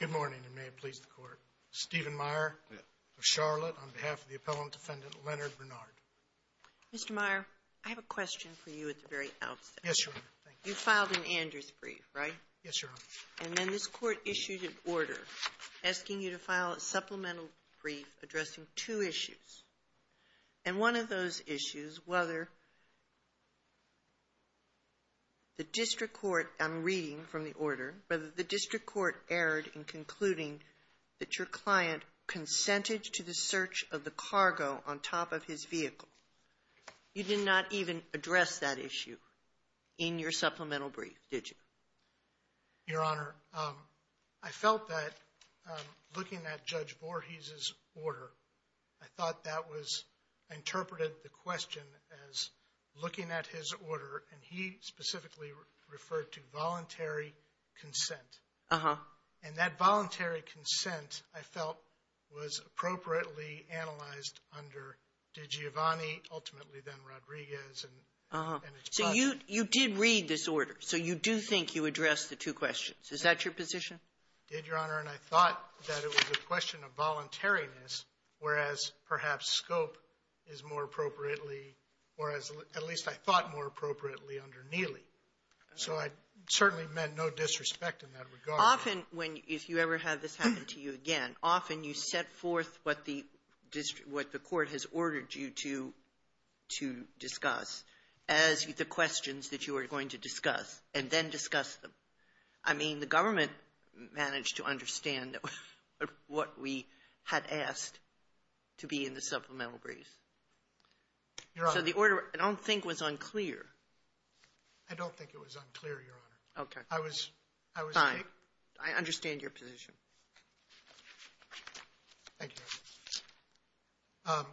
Good morning, and may it please the Court. Stephen Meyer of Charlotte, on behalf of the Appellant Defendant, Leonard Bernard. Mr. Meyer, I have a question for you at the very outset. Yes, Your Honor. You filed an Andrews brief, right? Yes, Your Honor. And then this Court issued an order asking you to file a supplemental brief addressing two issues. And one of those issues, whether the district court, I'm reading from the order, whether the district court erred in concluding that your client consented to the search of the cargo on top of his vehicle. You did not even address that issue in your supplemental brief, did you? Your Honor, I felt that looking at Judge Voorhees' order, I thought that was interpreted, the question, as looking at his order, and he specifically referred to voluntary consent. Uh-huh. And that voluntary consent, I felt, was appropriately analyzed under DiGiovanni, ultimately then Rodriguez, and his clients. You did read this order, so you do think you addressed the two questions. Is that your position? I did, Your Honor, and I thought that it was a question of voluntariness, whereas perhaps scope is more appropriately, or at least I thought more appropriately, under Neely. So I certainly meant no disrespect in that regard. Often when, if you ever have this happen to you again, often you set forth what the court has ordered you to discuss as the questions that you are going to discuss, and then discuss them. I mean, the government managed to understand what we had asked to be in the supplemental brief. Your Honor. So the order, I don't think, was unclear. I don't think it was unclear, Your Honor. Okay. I was, I was. I understand your position. Thank you, Your Honor.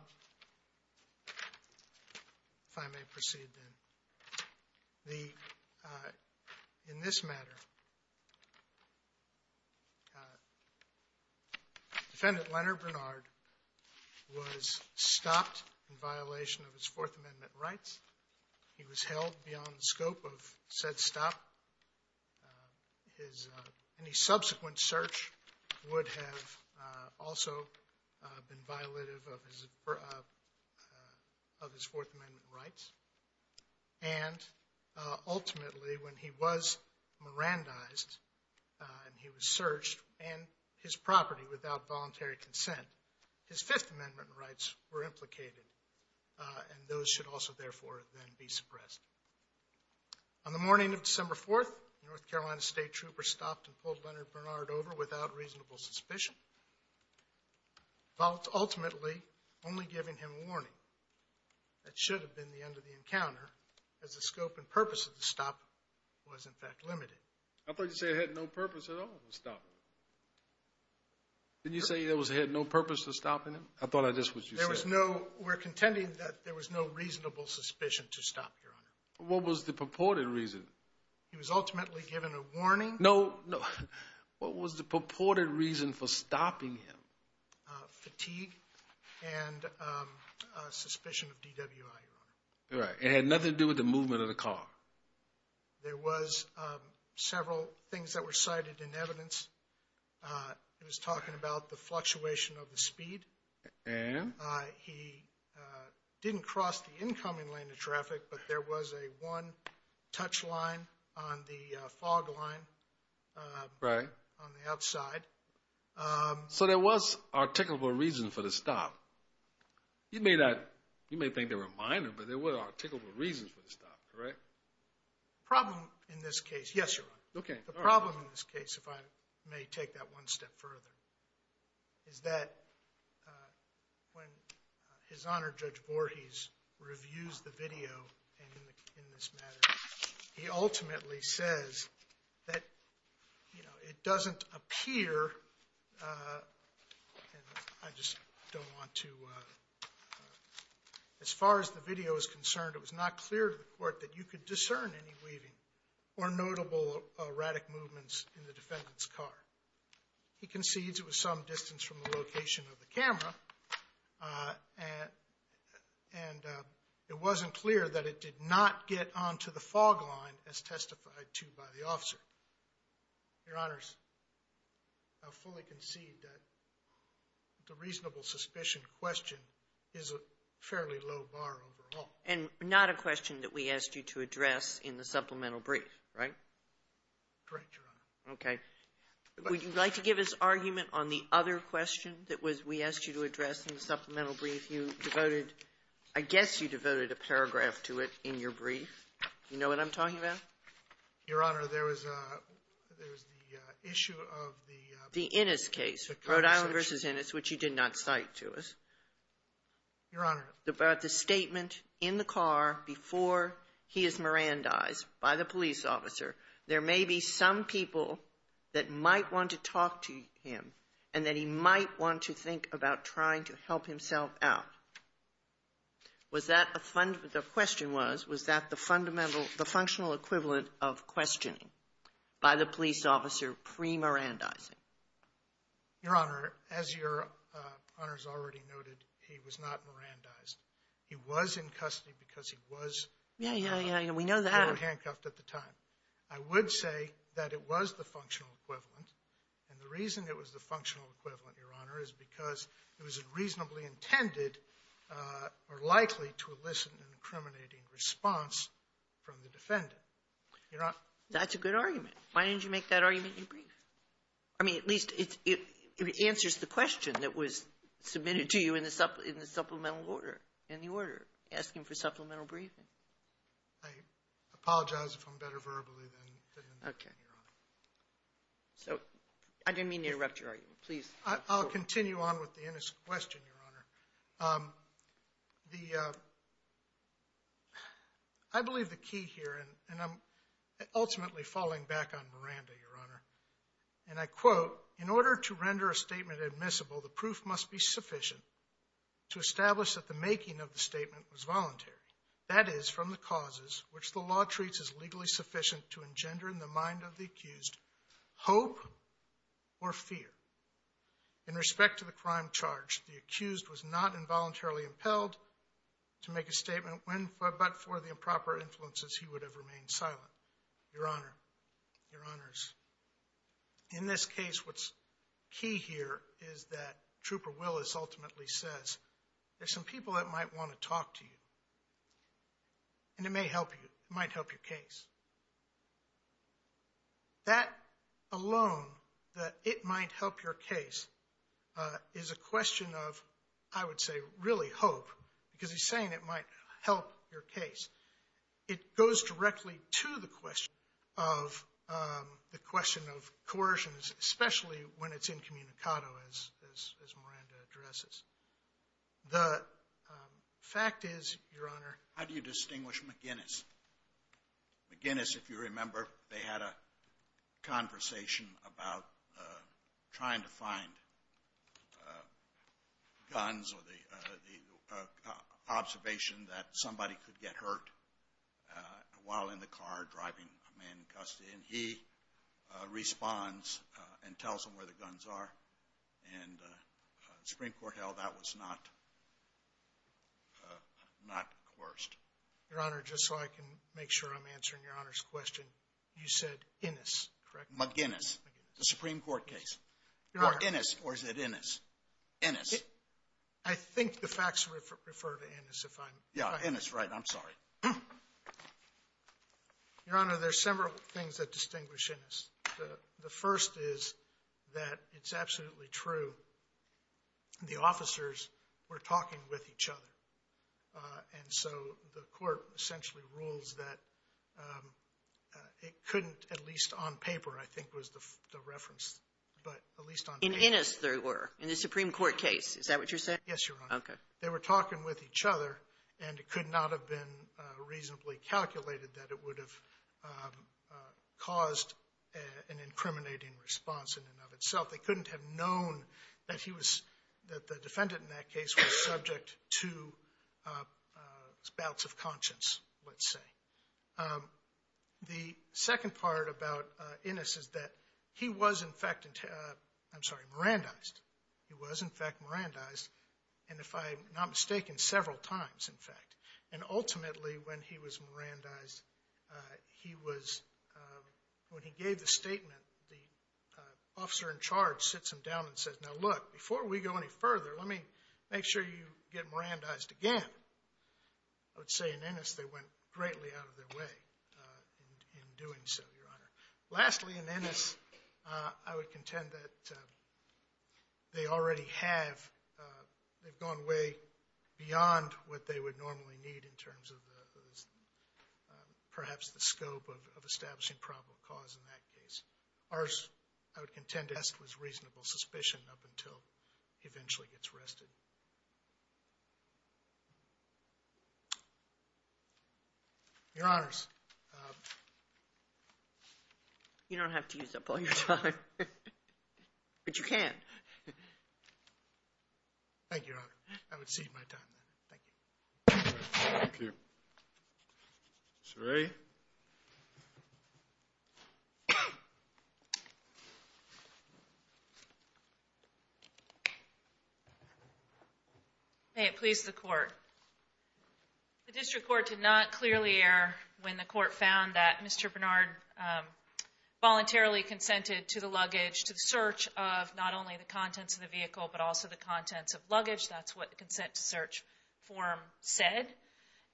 If I may proceed, then. The, in this matter, Defendant Leonard Bernard was stopped in violation of his Fourth Amendment rights. He was held beyond the scope of said stop. His, any subsequent search would have also been violative of his Fourth Amendment rights. And ultimately, when he was Mirandized, and he was searched, and his property without voluntary consent, his Fifth Amendment rights were implicated. And those should also, therefore, then be suppressed. On the morning of December 4th, the North Carolina State Trooper stopped and pulled Leonard Bernard over without reasonable suspicion. Ultimately, only giving him warning. That should have been the end of the encounter, as the scope and purpose of the stop was, in fact, limited. I thought you said it had no purpose at all to stop him. Didn't you say it had no purpose to stop him? I thought I just, what you said. There was no, we're contending that there was no reasonable suspicion to stop, Your Honor. What was the purported reason? He was ultimately given a warning. No, no. What was the purported reason for stopping him? Fatigue and suspicion of DWI, Your Honor. Right, it had nothing to do with the movement of the car. There was several things that were cited in evidence. It was talking about the fluctuation of the speed. And? He didn't cross the incoming lane of traffic, but there was a one-touch line on the fog line on the outside. So there was articulable reason for the stop. You may think they were minor, but there were articulable reasons for the stop, correct? Problem in this case, yes, Your Honor. Okay. The problem in this case, if I may take that one step further, is that when his Honor, Judge Voorhees, reviews the video in this matter, he ultimately says that, you know, it doesn't appear, and I just don't want to, as far as the video is concerned, it was not clear to the court that you could discern any weaving or notable erratic movements in the defendant's car. He concedes it was some distance from the location of the camera, and it wasn't clear that it did not get onto the fog line as testified to by the officer. Your Honors, I fully concede that the reasonable suspicion question is a fairly low bar overall. And not a question that we asked you to address in the supplemental brief, right? Correct, Your Honor. Okay. Would you like to give us argument on the other question that we asked you to address in the supplemental brief? You devoted, I guess you devoted a paragraph to it in your brief. You know what I'm talking about? Your Honor, there was a, there was the issue of the The Innis case, Rhode Island v. Innis, which you did not cite to us. Your Honor. About the statement in the car before he is Mirandized by the police officer. There may be some people that might want to talk to him, and that he might want to think about trying to help himself out. Was that a fund, the question was, was that the fundamental, the functional equivalent of questioning by the police officer pre-Mirandizing? Your Honor, as Your Honor's already noted, he was not Mirandized. He was in custody because he was. Yeah, yeah, yeah, we know that. He was handcuffed at the time. I would say that it was the functional equivalent, and the reason it was the functional equivalent, Your Honor, is because it was reasonably intended or likely to elicit an incriminating response from the defendant. You're not. That's a good argument. Why didn't you make that argument in your brief? I mean, at least it answers the question that was submitted to you in the supplemental order, in the order, asking for supplemental briefing. I apologize if I'm better verbally than in the brief, Your Honor. So, I didn't mean to interrupt your argument. Please. I'll continue on with the innocent question, Your Honor. The, I believe the key here, and I'm ultimately falling back on Miranda, Your Honor, and I quote, in order to render a statement admissible, the proof must be sufficient to establish that the making of the statement was voluntary. That is, from the causes, which the law treats as legally sufficient to engender in the mind of the accused hope or fear. In respect to the crime charge, the accused was not involuntarily impelled to make a statement, when, but for the improper influences, he would have remained silent. Your Honor, Your Honors, in this case, what's key here is that Trooper Willis ultimately says, there's some people that might want to talk to you, and it may help you, it might help your case. That alone, that it might help your case, is a question of, I would say, really hope, because he's saying it might help your case. It goes directly to the question of, the question of coercion, especially when it's incommunicado, as Miranda addresses. The fact is, Your Honor, How do you distinguish McGinnis? McGinnis, if you remember, they had a conversation about trying to find guns, or the observation that somebody could get hurt while in the car, driving a man in custody, and he responds and tells them where the guns are. And the Supreme Court held that was not coerced. Your Honor, just so I can make sure I'm answering Your Honor's question, you said Innis, correct? McGinnis. The Supreme Court case. Or Innis, or is it Innis? Innis. I think the facts refer to Innis, if I'm... Yeah, Innis, right, I'm sorry. Your Honor, there's several things that distinguish Innis. The first is that it's absolutely true, the officers were talking with each other. And so the court essentially rules that it couldn't, at least on paper, I think was the reference, but at least on paper... In Innis they were, in the Supreme Court case, is that what you're saying? Yes, Your Honor. Okay. They were talking with each other, and it could not have been reasonably calculated that it would have caused an incriminating response in and of itself. They couldn't have known that the defendant in that case was subject to bouts of conscience, let's say. The second part about Innis is that he was, in fact, I'm sorry, Mirandized. He was, in fact, Mirandized, and if I'm not mistaken, several times, in fact. And ultimately, when he was Mirandized, he was, when he gave the statement, the officer in charge sits him down and says, now look, before we go any further, let me make sure you get Mirandized again. I would say in Innis they went greatly out of their way in doing so, Your Honor. Lastly, in Innis, I would contend that they already have, they've gone way beyond what they would normally need in terms of perhaps the scope of establishing probable cause in that case. Ours, I would contend, was reasonable suspicion up until he eventually gets arrested. Your Honors. You don't have to use up all your time, but you can. Thank you, Your Honor. I would cede my time, then. Thank you. Thank you. Ms. Wray. May it please the Court. The district court did not clearly err when the court found that Mr. Bernard voluntarily consented to the luggage, to the search of not only the contents of the vehicle, but also the contents of luggage. That's what the consent to search form said,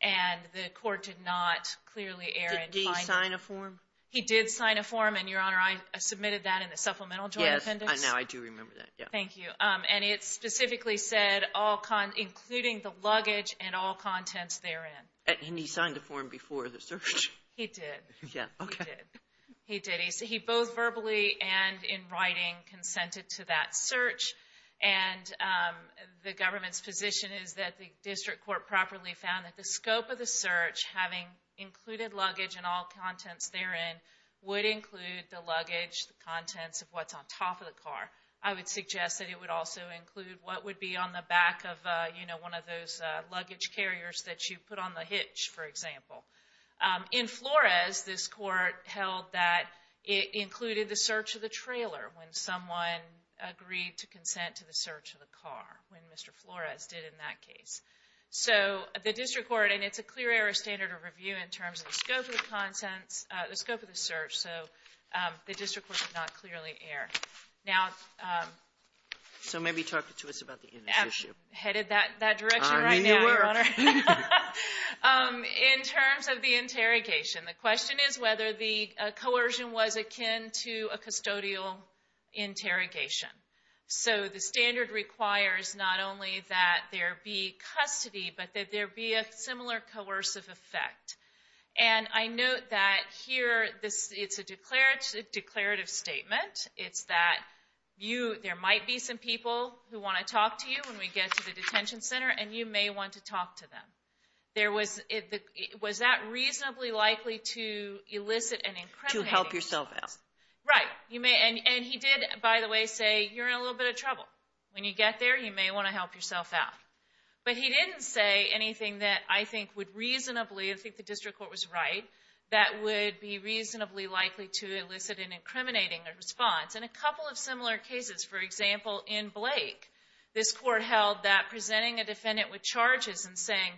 and the court did not clearly err. Did he sign a form? He did sign a form, and, Your Honor, I submitted that in the supplemental joint appendix. Yes, I know. I do remember that. Thank you. And it specifically said, including the luggage and all contents therein. And he signed the form before the search? He did. Yeah, okay. He did. And in writing, consented to that search. And the government's position is that the district court properly found that the scope of the search, having included luggage and all contents therein, would include the luggage, the contents of what's on top of the car. I would suggest that it would also include what would be on the back of, you know, one of those luggage carriers that you put on the hitch, for example. In Flores, this court held that it included the search of the trailer when someone agreed to consent to the search of the car, when Mr. Flores did in that case. So the district court, and it's a clear error of standard of review in terms of the scope of the search, so the district court did not clearly err. So maybe talk to us about the in this issue. Headed that direction right now, Your Honor. Okay. In terms of the interrogation, the question is whether the coercion was akin to a custodial interrogation. So the standard requires not only that there be custody, but that there be a similar coercive effect. And I note that here, it's a declarative statement. It's that there might be some people who want to talk to you when we get to the detention center, and you may want to talk to them. There was, was that reasonably likely to elicit an incriminating response? To help yourself out. Right. You may, and he did, by the way, say, you're in a little bit of trouble. When you get there, you may want to help yourself out. But he didn't say anything that I think would reasonably, I think the district court was right, that would be reasonably likely to elicit an incriminating response. In a couple of similar cases, for example, in Blake, this court held that presenting a defendant with charges and saying,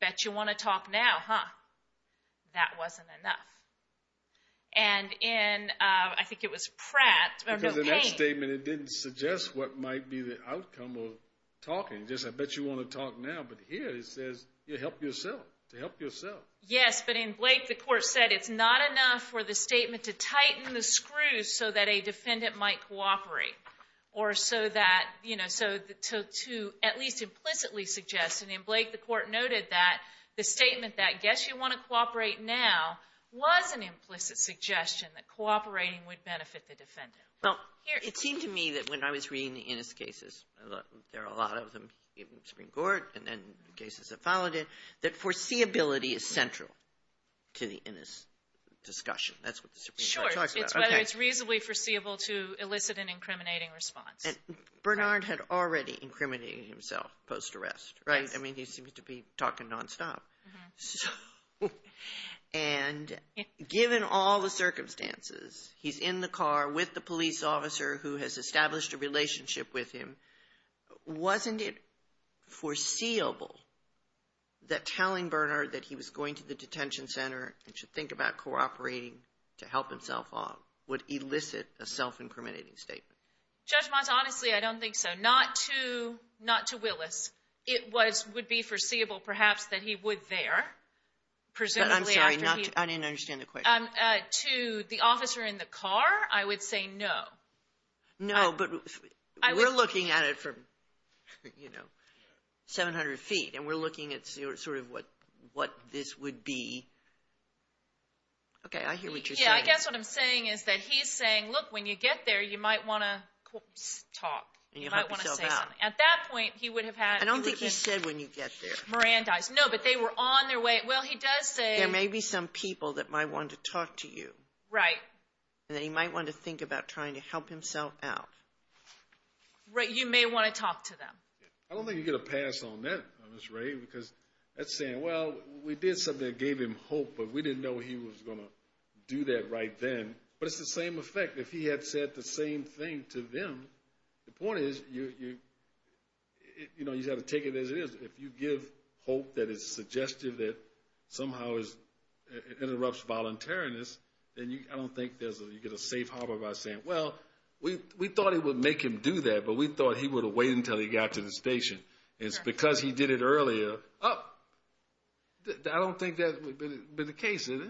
bet you want to talk now, huh? That wasn't enough. And in, I think it was Pratt, because in that statement, it didn't suggest what might be the outcome of talking. Just, I bet you want to talk now. But here, it says, you help yourself, to help yourself. Yes, but in Blake, the court said it's not enough for the statement to tighten the screws so that a defendant might cooperate. Or so that, you know, so to at least implicitly suggest, and in Blake, the court noted that the statement that, guess you want to cooperate now, was an implicit suggestion that cooperating would benefit the defendant. Well, it seemed to me that when I was reading the Innis cases, there are a lot of them in the Supreme Court, and then cases that followed it, that foreseeability is central to the Innis discussion. That's what the Supreme Court talked about. It's reasonably foreseeable to elicit an incriminating response. Bernard had already incriminated himself post-arrest, right? I mean, he seems to be talking nonstop. And given all the circumstances, he's in the car with the police officer who has established a relationship with him. Wasn't it foreseeable that telling Bernard that he was going to the detention center and should think about cooperating to help himself out would elicit a self-incriminating statement? Judge Monson, honestly, I don't think so. Not to Willis. It would be foreseeable, perhaps, that he would there. Presumably, after he — I'm sorry. I didn't understand the question. To the officer in the car, I would say no. No, but we're looking at it from, you know, 700 feet, and we're looking at sort of what this would be. Okay, I hear what you're saying. Yeah, I guess what I'm saying is that he's saying, look, when you get there, you might want to talk. And you might want to say something. At that point, he would have had — I don't think he said, when you get there. — Mirandized. No, but they were on their way. Well, he does say — There may be some people that might want to talk to you. Right. And then he might want to think about trying to help himself out. Right. You may want to talk to them. I don't think you get a pass on that, Ms. Ray, because that's saying, well, we did something that gave him hope, but we didn't know he was going to do that right then. But it's the same effect. If he had said the same thing to them, the point is, you know, you have to take it as it is. If you give hope that is suggestive, that somehow interrupts voluntariness, then I don't think you get a safe harbor by saying, well, we thought it would make him do that, but we thought he would have waited until he got to the station. It's because he did it earlier. Oh, I don't think that would be the case, is it?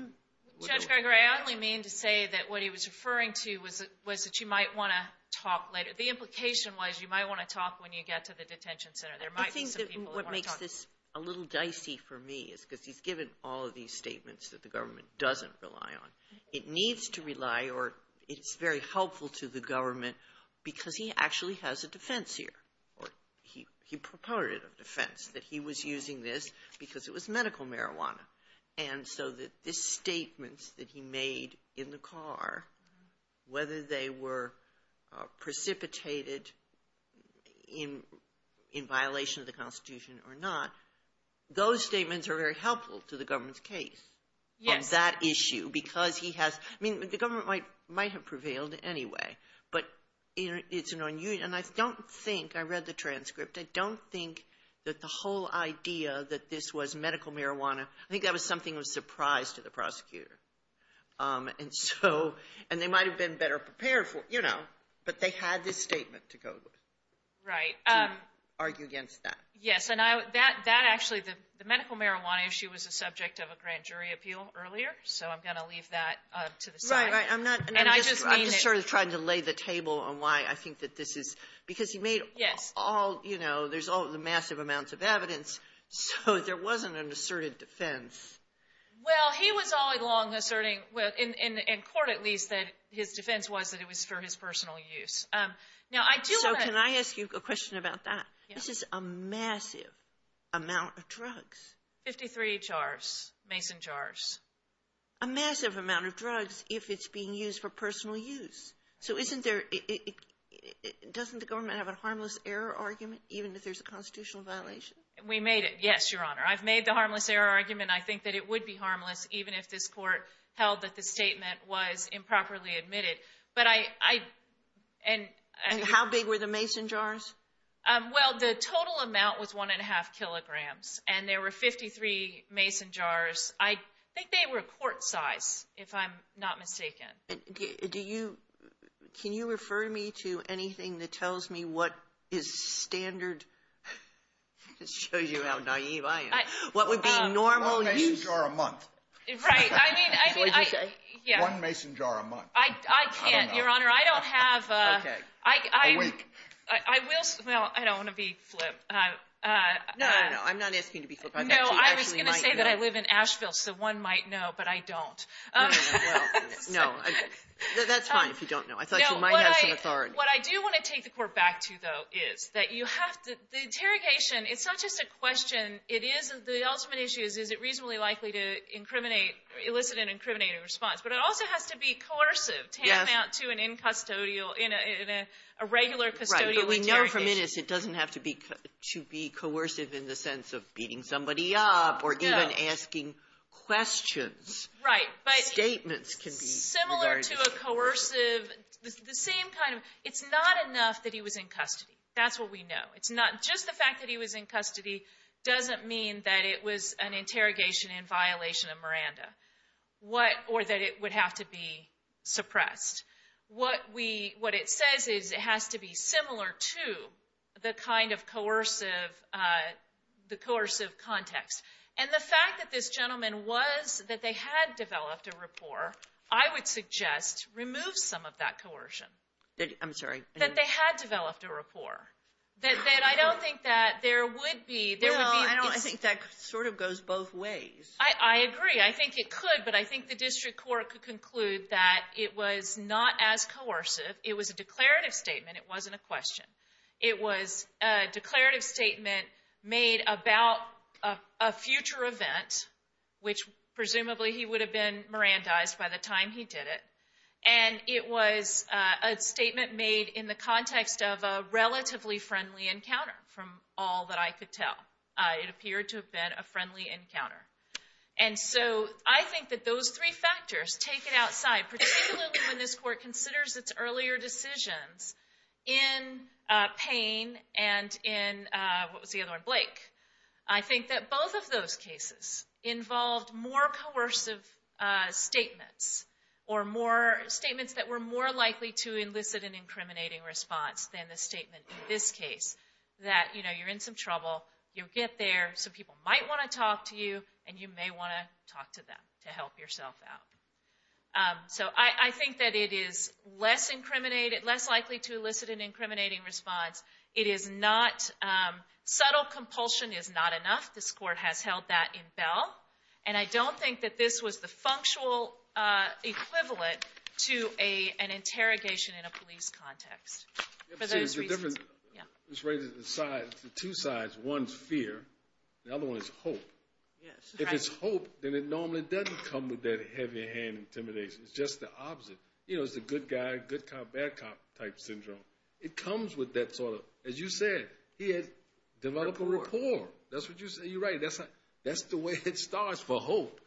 Judge Gregory, I only mean to say that what he was referring to was that you might want to talk later. The implication was you might want to talk when you get to the detention center. There might be some people that want to talk to you. I think what makes this a little dicey for me is because he's given all of these statements that the government doesn't rely on. It needs to rely, or it's very helpful to the government because he actually has a defense here. Or he proposed a defense that he was using this because it was medical marijuana. And so the statements that he made in the car, whether they were precipitated in violation of the Constitution or not, those statements are very helpful to the government's case on that issue because he has — I mean, the government might have prevailed anyway. But it's an — and I don't think — I read the transcript. I don't think that the whole idea that this was medical marijuana — I think that was something that was a surprise to the prosecutor. And so — and they might have been better prepared for it, you know. But they had this statement to go with. Right. To argue against that. Yes. And I — that actually — the medical marijuana issue was the subject of a grand jury appeal earlier, so I'm going to leave that to the side. Right, right. I'm not — And I just mean — You're sort of trying to lay the table on why I think that this is — because he made — Yes. — all — you know, there's all the massive amounts of evidence, so there wasn't an asserted defense. Well, he was all along asserting — well, in court, at least — that his defense was that it was for his personal use. Now, I do — So can I ask you a question about that? Yes. This is a massive amount of drugs. Fifty-three jars. Mason jars. A massive amount of drugs if it's being used for personal use. So isn't there — doesn't the government have a harmless error argument, even if there's a constitutional violation? We made it. Yes, Your Honor. I've made the harmless error argument. I think that it would be harmless even if this court held that the statement was improperly admitted. But I — and — How big were the mason jars? Well, the total amount was one and a half kilograms, and there were 53 mason jars. I think they were court-size, if I'm not mistaken. Do you — can you refer me to anything that tells me what is standard — this shows you how naive I am — what would be normal use — One mason jar a month. Right. I mean — Is that what you say? Yeah. One mason jar a month. I can't, Your Honor. I don't have — Okay. A week. I will — well, I don't want to be flipped. No, no. I'm not asking you to be flipped. I'm actually actually — I live in Asheville, so one might know, but I don't. No, that's fine if you don't know. I thought you might have some authority. What I do want to take the court back to, though, is that you have to — the interrogation, it's not just a question. It is — the ultimate issue is, is it reasonably likely to incriminate — elicit an incriminating response? But it also has to be coercive to hand out to an incustodial — in a regular custodial interrogation. Right, but we know from innocent it doesn't have to be coercive in the sense of beating somebody up or even asking questions. Right, but — Statements can be regarded as coercive. Similar to a coercive — the same kind of — it's not enough that he was in custody. That's what we know. It's not — just the fact that he was in custody doesn't mean that it was an interrogation in violation of Miranda. What — or that it would have to be suppressed. What we — what it says is it has to be similar to the kind of coercive — the coercive context. And the fact that this gentleman was — that they had developed a rapport, I would suggest remove some of that coercion. I'm sorry. That they had developed a rapport. That I don't think that there would be — Well, I don't — I think that sort of goes both ways. I agree. I think it could, but I think the district court could conclude that it was not as coercive. It was a declarative statement. It wasn't a question. It was a declarative statement made about a future event, which presumably he would have been Mirandized by the time he did it. And it was a statement made in the context of a relatively friendly encounter from all that I could tell. It appeared to have been a friendly encounter. And so I think that those three factors take it outside, particularly when this court considers its earlier decisions in Payne and in — what was the other one? Blake. I think that both of those cases involved more coercive statements or more — statements that were more likely to elicit an incriminating response than the statement in this case, that, you know, you're in some trouble. You get there. Some people might want to talk to you, and you may want to talk to them to help yourself out. So I think that it is less incriminated — less likely to elicit an incriminating response. It is not — subtle compulsion is not enough. This court has held that in bell. And I don't think that this was the functional equivalent to an interrogation in a police context for those reasons. This raises two sides. One's fear. The other one is hope. If it's hope, then it normally doesn't come with that heavy hand intimidation. It's just the opposite. You know, it's the good guy, good cop, bad cop type syndrome. It comes with that sort of — as you said, he had developed a rapport. That's what you — you're right. That's the way it starts for hope.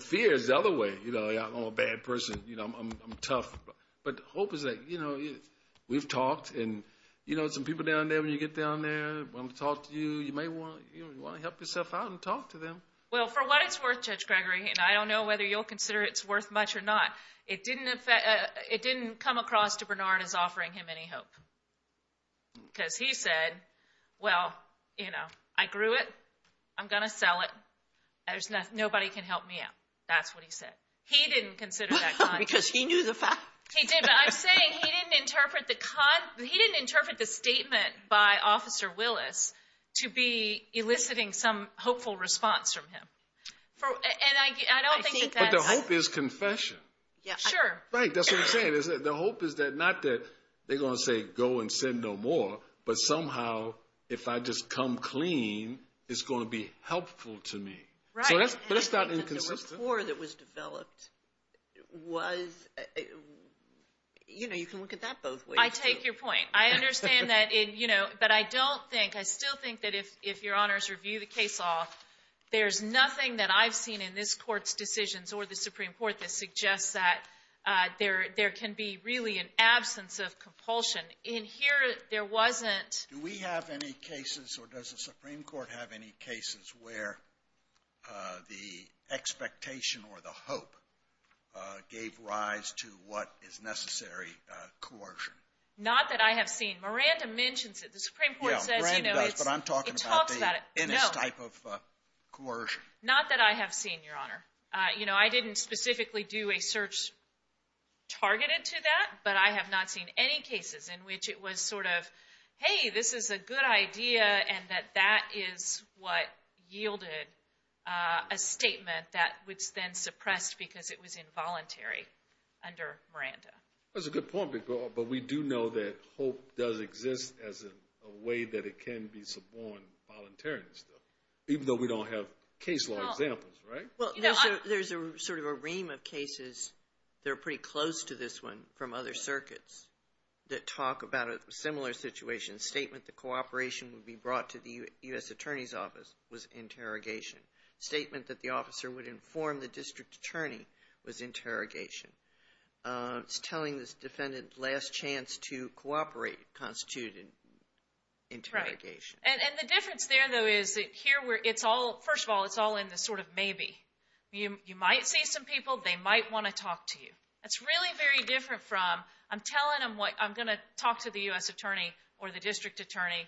Fear is the other way. You know, I'm a bad person. You know, I'm tough. But hope is that, you know, we've talked. And, you know, some people down there, when you get down there, want to talk to you. You may want — you want to help yourself out and talk to them. Well, for what it's worth, Judge Gregory — and I don't know whether you'll consider it's worth much or not — it didn't come across to Bernard as offering him any hope. Because he said, well, you know, I grew it. I'm going to sell it. Nobody can help me out. That's what he said. He didn't consider that kind. Because he knew the fact. He did. But I'm saying he didn't interpret the — he didn't interpret the statement by Officer Willis to be eliciting some hopeful response from him. And I don't think that that's — But the hope is confession. Yeah. Sure. Right. That's what I'm saying, is that the hope is that — not that they're going to say, go and sin no more. But somehow, if I just come clean, it's going to be helpful to me. So that's — but it's not inconsistent. The report that was developed was — you know, you can look at that both ways. I take your point. I understand that in — you know, but I don't think — I still think that if your honors review the case law, there's nothing that I've seen in this Court's decisions or the Supreme Court that suggests that there can be really an absence of compulsion. In here, there wasn't — Do we have any cases, or does the Supreme Court have any cases where the expectation or the hope gave rise to what is necessary coercion? Not that I have seen. Miranda mentions it. The Supreme Court says, you know, it's — Yeah, Miranda does. But I'm talking about the — It talks about it. No. Innis type of coercion. Not that I have seen, Your Honor. You know, I didn't specifically do a search targeted to that, but I have not seen any in which it was sort of, hey, this is a good idea and that that is what yielded a statement that was then suppressed because it was involuntary under Miranda. That's a good point, but we do know that hope does exist as a way that it can be suborned voluntarily and stuff, even though we don't have case law examples, right? Well, there's a sort of a ream of cases that are pretty close to this one from other circuits that talk about a similar situation. Statement that cooperation would be brought to the U.S. Attorney's Office was interrogation. Statement that the officer would inform the district attorney was interrogation. It's telling this defendant last chance to cooperate constituted interrogation. And the difference there, though, is that here where it's all — first of all, it's all in the sort of maybe. You might see some people. They might want to talk to you. That's really very different from I'm telling them what I'm going to talk to the U.S. attorney or the district attorney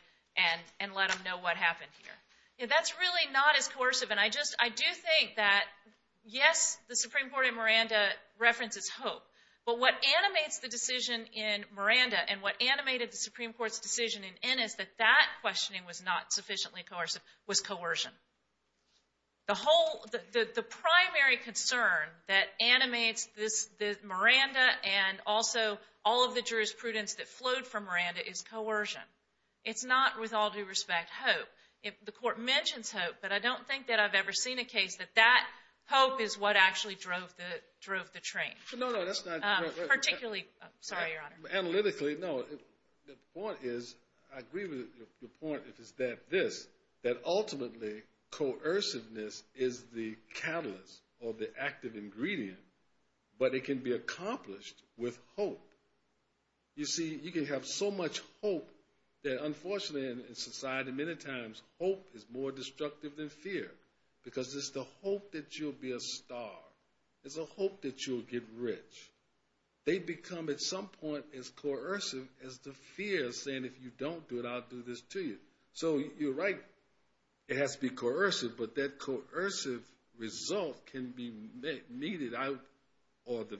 and let them know what happened here. That's really not as coercive. And I just — I do think that, yes, the Supreme Court in Miranda references hope. But what animates the decision in Miranda and what animated the Supreme Court's decision in Ennis that that questioning was not sufficiently coercive was coercion. The whole — the primary concern that animates this — this — Miranda and also all of the jurisprudence that flowed from Miranda is coercion. It's not, with all due respect, hope. The court mentions hope, but I don't think that I've ever seen a case that that hope is what actually drove the — drove the train. No, no, that's not — Particularly — sorry, Your Honor. Analytically, no. The point is — I agree with the point is that this, that ultimately coerciveness is the catalyst or the active ingredient, but it can be accomplished with hope. You see, you can have so much hope that, unfortunately, in society, many times hope is more destructive than fear because it's the hope that you'll be a star. It's a hope that you'll get rich. They become, at some point, as coercive as the fear of saying, if you don't do it, I'll do this to you. So, you're right. It has to be coercive, but that coercive result can be met — needed. I — or the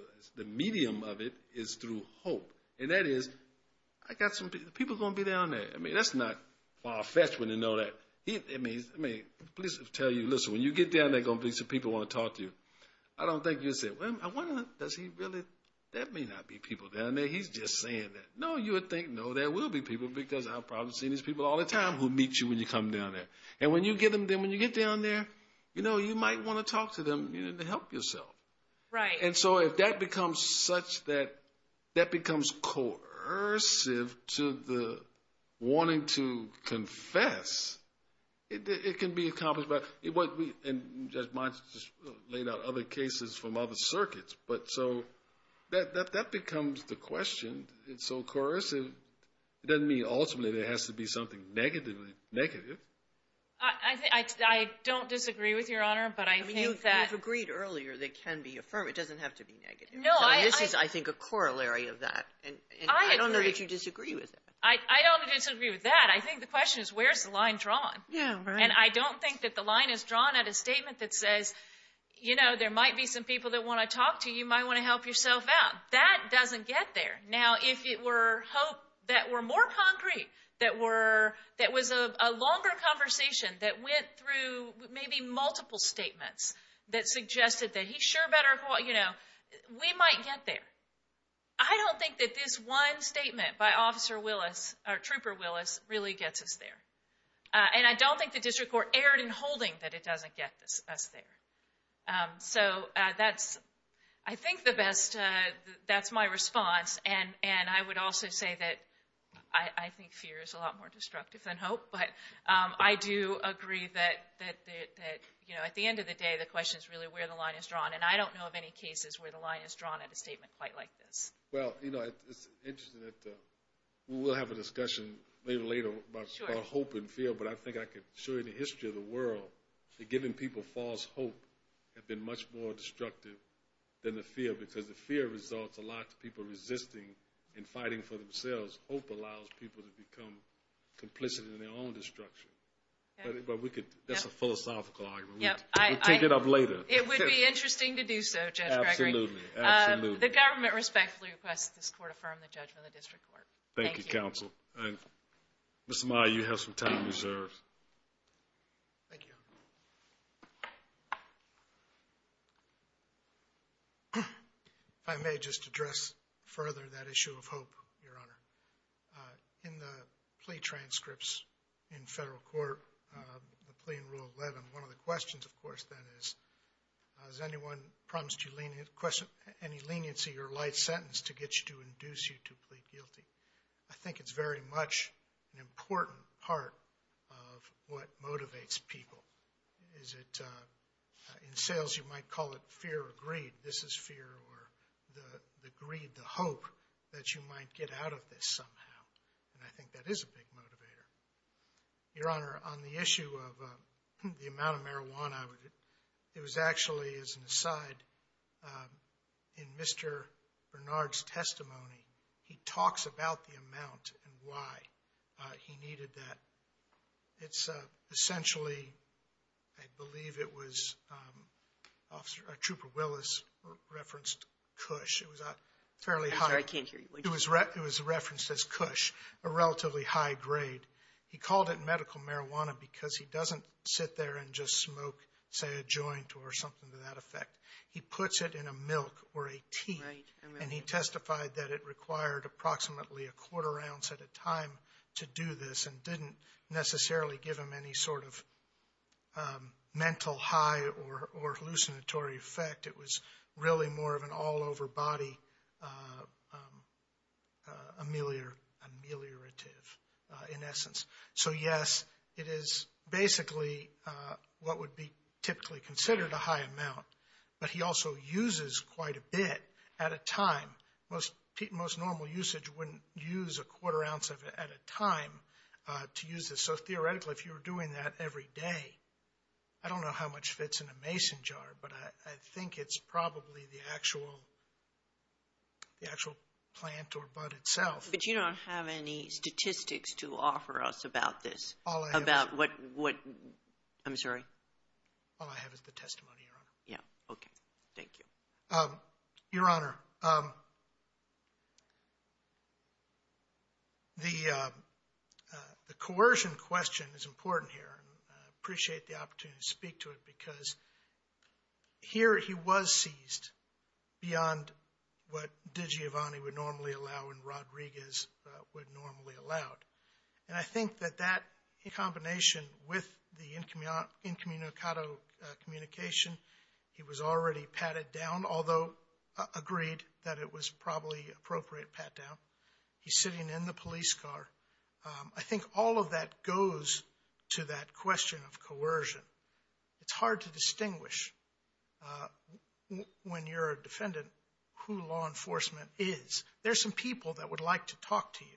— the medium of it is through hope. And that is — I got some — people going to be down there. I mean, that's not far-fetched when you know that. He — I mean — I mean, please tell you, listen, when you get down there, there's going to be some people who want to talk to you. I don't think you'll say, well, I wonder, does he really — that may not be people down there. He's just saying that. No, you would think, no, there will be people because I've probably seen these people all the time who meet you when you come down there. And when you get them — then when you get down there, you know, you might want to talk to them, you know, to help yourself. Right. And so, if that becomes such that — that becomes coercive to the wanting to confess, it can be accomplished by — it won't be — and Judge Monson just laid out other cases from other circuits. But so, that becomes the question. It's so coercive. It doesn't mean, ultimately, there has to be something negatively — negative. I — I don't disagree with Your Honor, but I think that — You've agreed earlier that it can be affirmed. It doesn't have to be negative. No, I — And this is, I think, a corollary of that. And I don't know that you disagree with that. I don't disagree with that. I think the question is, where's the line drawn? Yeah, right. And I don't think that the line is drawn at a statement that says, you know, there might be some people that want to talk to you. You might want to help yourself out. That doesn't get there. Now, if it were hope that were more concrete, that were — that was a longer conversation, that went through maybe multiple statements that suggested that he sure better — you know, we might get there. I don't think that this one statement by Officer Willis — or Trooper Willis really gets us there. And I don't think the district court erred in holding that it doesn't get us there. So that's, I think, the best — that's my response. And I would also say that I think fear is a lot more destructive than hope. But I do agree that, you know, at the end of the day, the question is really where the line is drawn. And I don't know of any cases where the line is drawn at a statement quite like this. Well, you know, it's interesting that we'll have a discussion later about hope and fear. But I think I could show you the history of the world, that giving people false hope had been much more destructive than the fear. Because the fear results a lot to people resisting and fighting for themselves. Hope allows people to become complicit in their own destruction. But we could — that's a philosophical argument. We'll take it up later. It would be interesting to do so, Judge Gregory. Absolutely. Absolutely. The government respectfully requests this court affirm the judgment of the district court. Thank you. Thank you, counsel. And, Mr. Maher, you have some time reserved. Thank you, Your Honor. If I may just address further that issue of hope, Your Honor. In the plea transcripts in federal court, the plea in Rule 11, one of the questions, of course, then is, has anyone promised you any leniency or life sentence to get you to induce you to plead guilty? I think it's very much an important part of what motivates people. Is it — in sales, you might call it fear or greed. This is fear or the greed, the hope that you might get out of this somehow. And I think that is a big motivator. Your Honor, on the issue of the amount of marijuana, it was actually, as an aside, in Mr. Bernard's testimony, he talks about the amount and why he needed that. It's essentially — I believe it was Officer — Trooper Willis referenced Cush. It was a fairly high — I'm sorry, I can't hear you. It was referenced as Cush, a relatively high grade. He called it medical marijuana because he doesn't sit there and just smoke, say, a joint or something to that effect. He puts it in a milk or a tea. Right. And he testified that it required approximately a quarter ounce at a time to do this and didn't necessarily give him any sort of mental high or hallucinatory effect. It was really more of an all-over body ameliorative, in essence. So, yes, it is basically what would be typically considered a high amount. But he also uses quite a bit at a time. Most normal usage wouldn't use a quarter ounce of it at a time to use this. So, theoretically, if you were doing that every day, I don't know how much fits in a mason jar, but I think it's probably the actual plant or bud itself. But you don't have any statistics to offer us about this. All I have — About what — I'm sorry? All I have is the testimony, Your Honor. Okay. Thank you. Your Honor, the coercion question is important here. And I appreciate the opportunity to speak to it because here he was seized beyond what DiGiovanni would normally allow and Rodriguez would normally allow. And I think that that combination with the incommunicado communication he was already patted down, although agreed that it was probably appropriate pat down. He's sitting in the police car. I think all of that goes to that question of coercion. It's hard to distinguish when you're a defendant who law enforcement is. There's some people that would like to talk to you.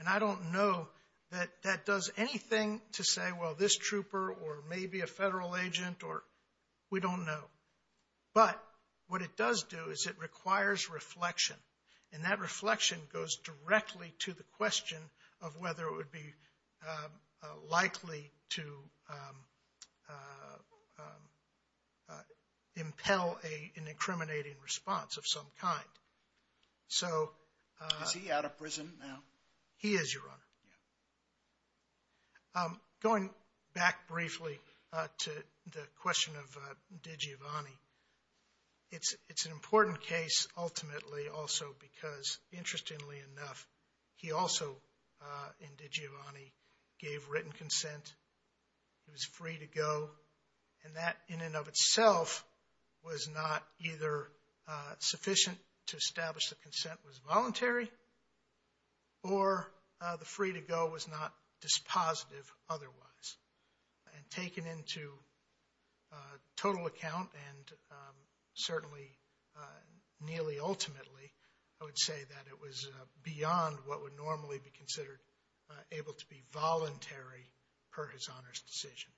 And I don't know that that does anything to say, well, this trooper or maybe a federal agent or — we don't know. But what it does do is it requires reflection. And that reflection goes directly to the question of whether it would be likely to impel an incriminating response of some kind. So — Is he out of prison now? He is, Your Honor. Yeah. Going back briefly to the question of DiGiovanni, it's an important case ultimately also because, interestingly enough, he also, in DiGiovanni, gave written consent. He was free to go. And that, in and of itself, was not either sufficient to establish the consent was voluntary or the free to go was not dispositive otherwise. And taken into total account and certainly nearly ultimately, I would say that it was beyond what would normally be considered able to be voluntary per his honor's decision.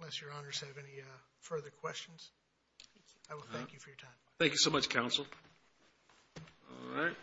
Unless Your Honors have any further questions, I will thank you for your time. Thank you so much, counsel. All right.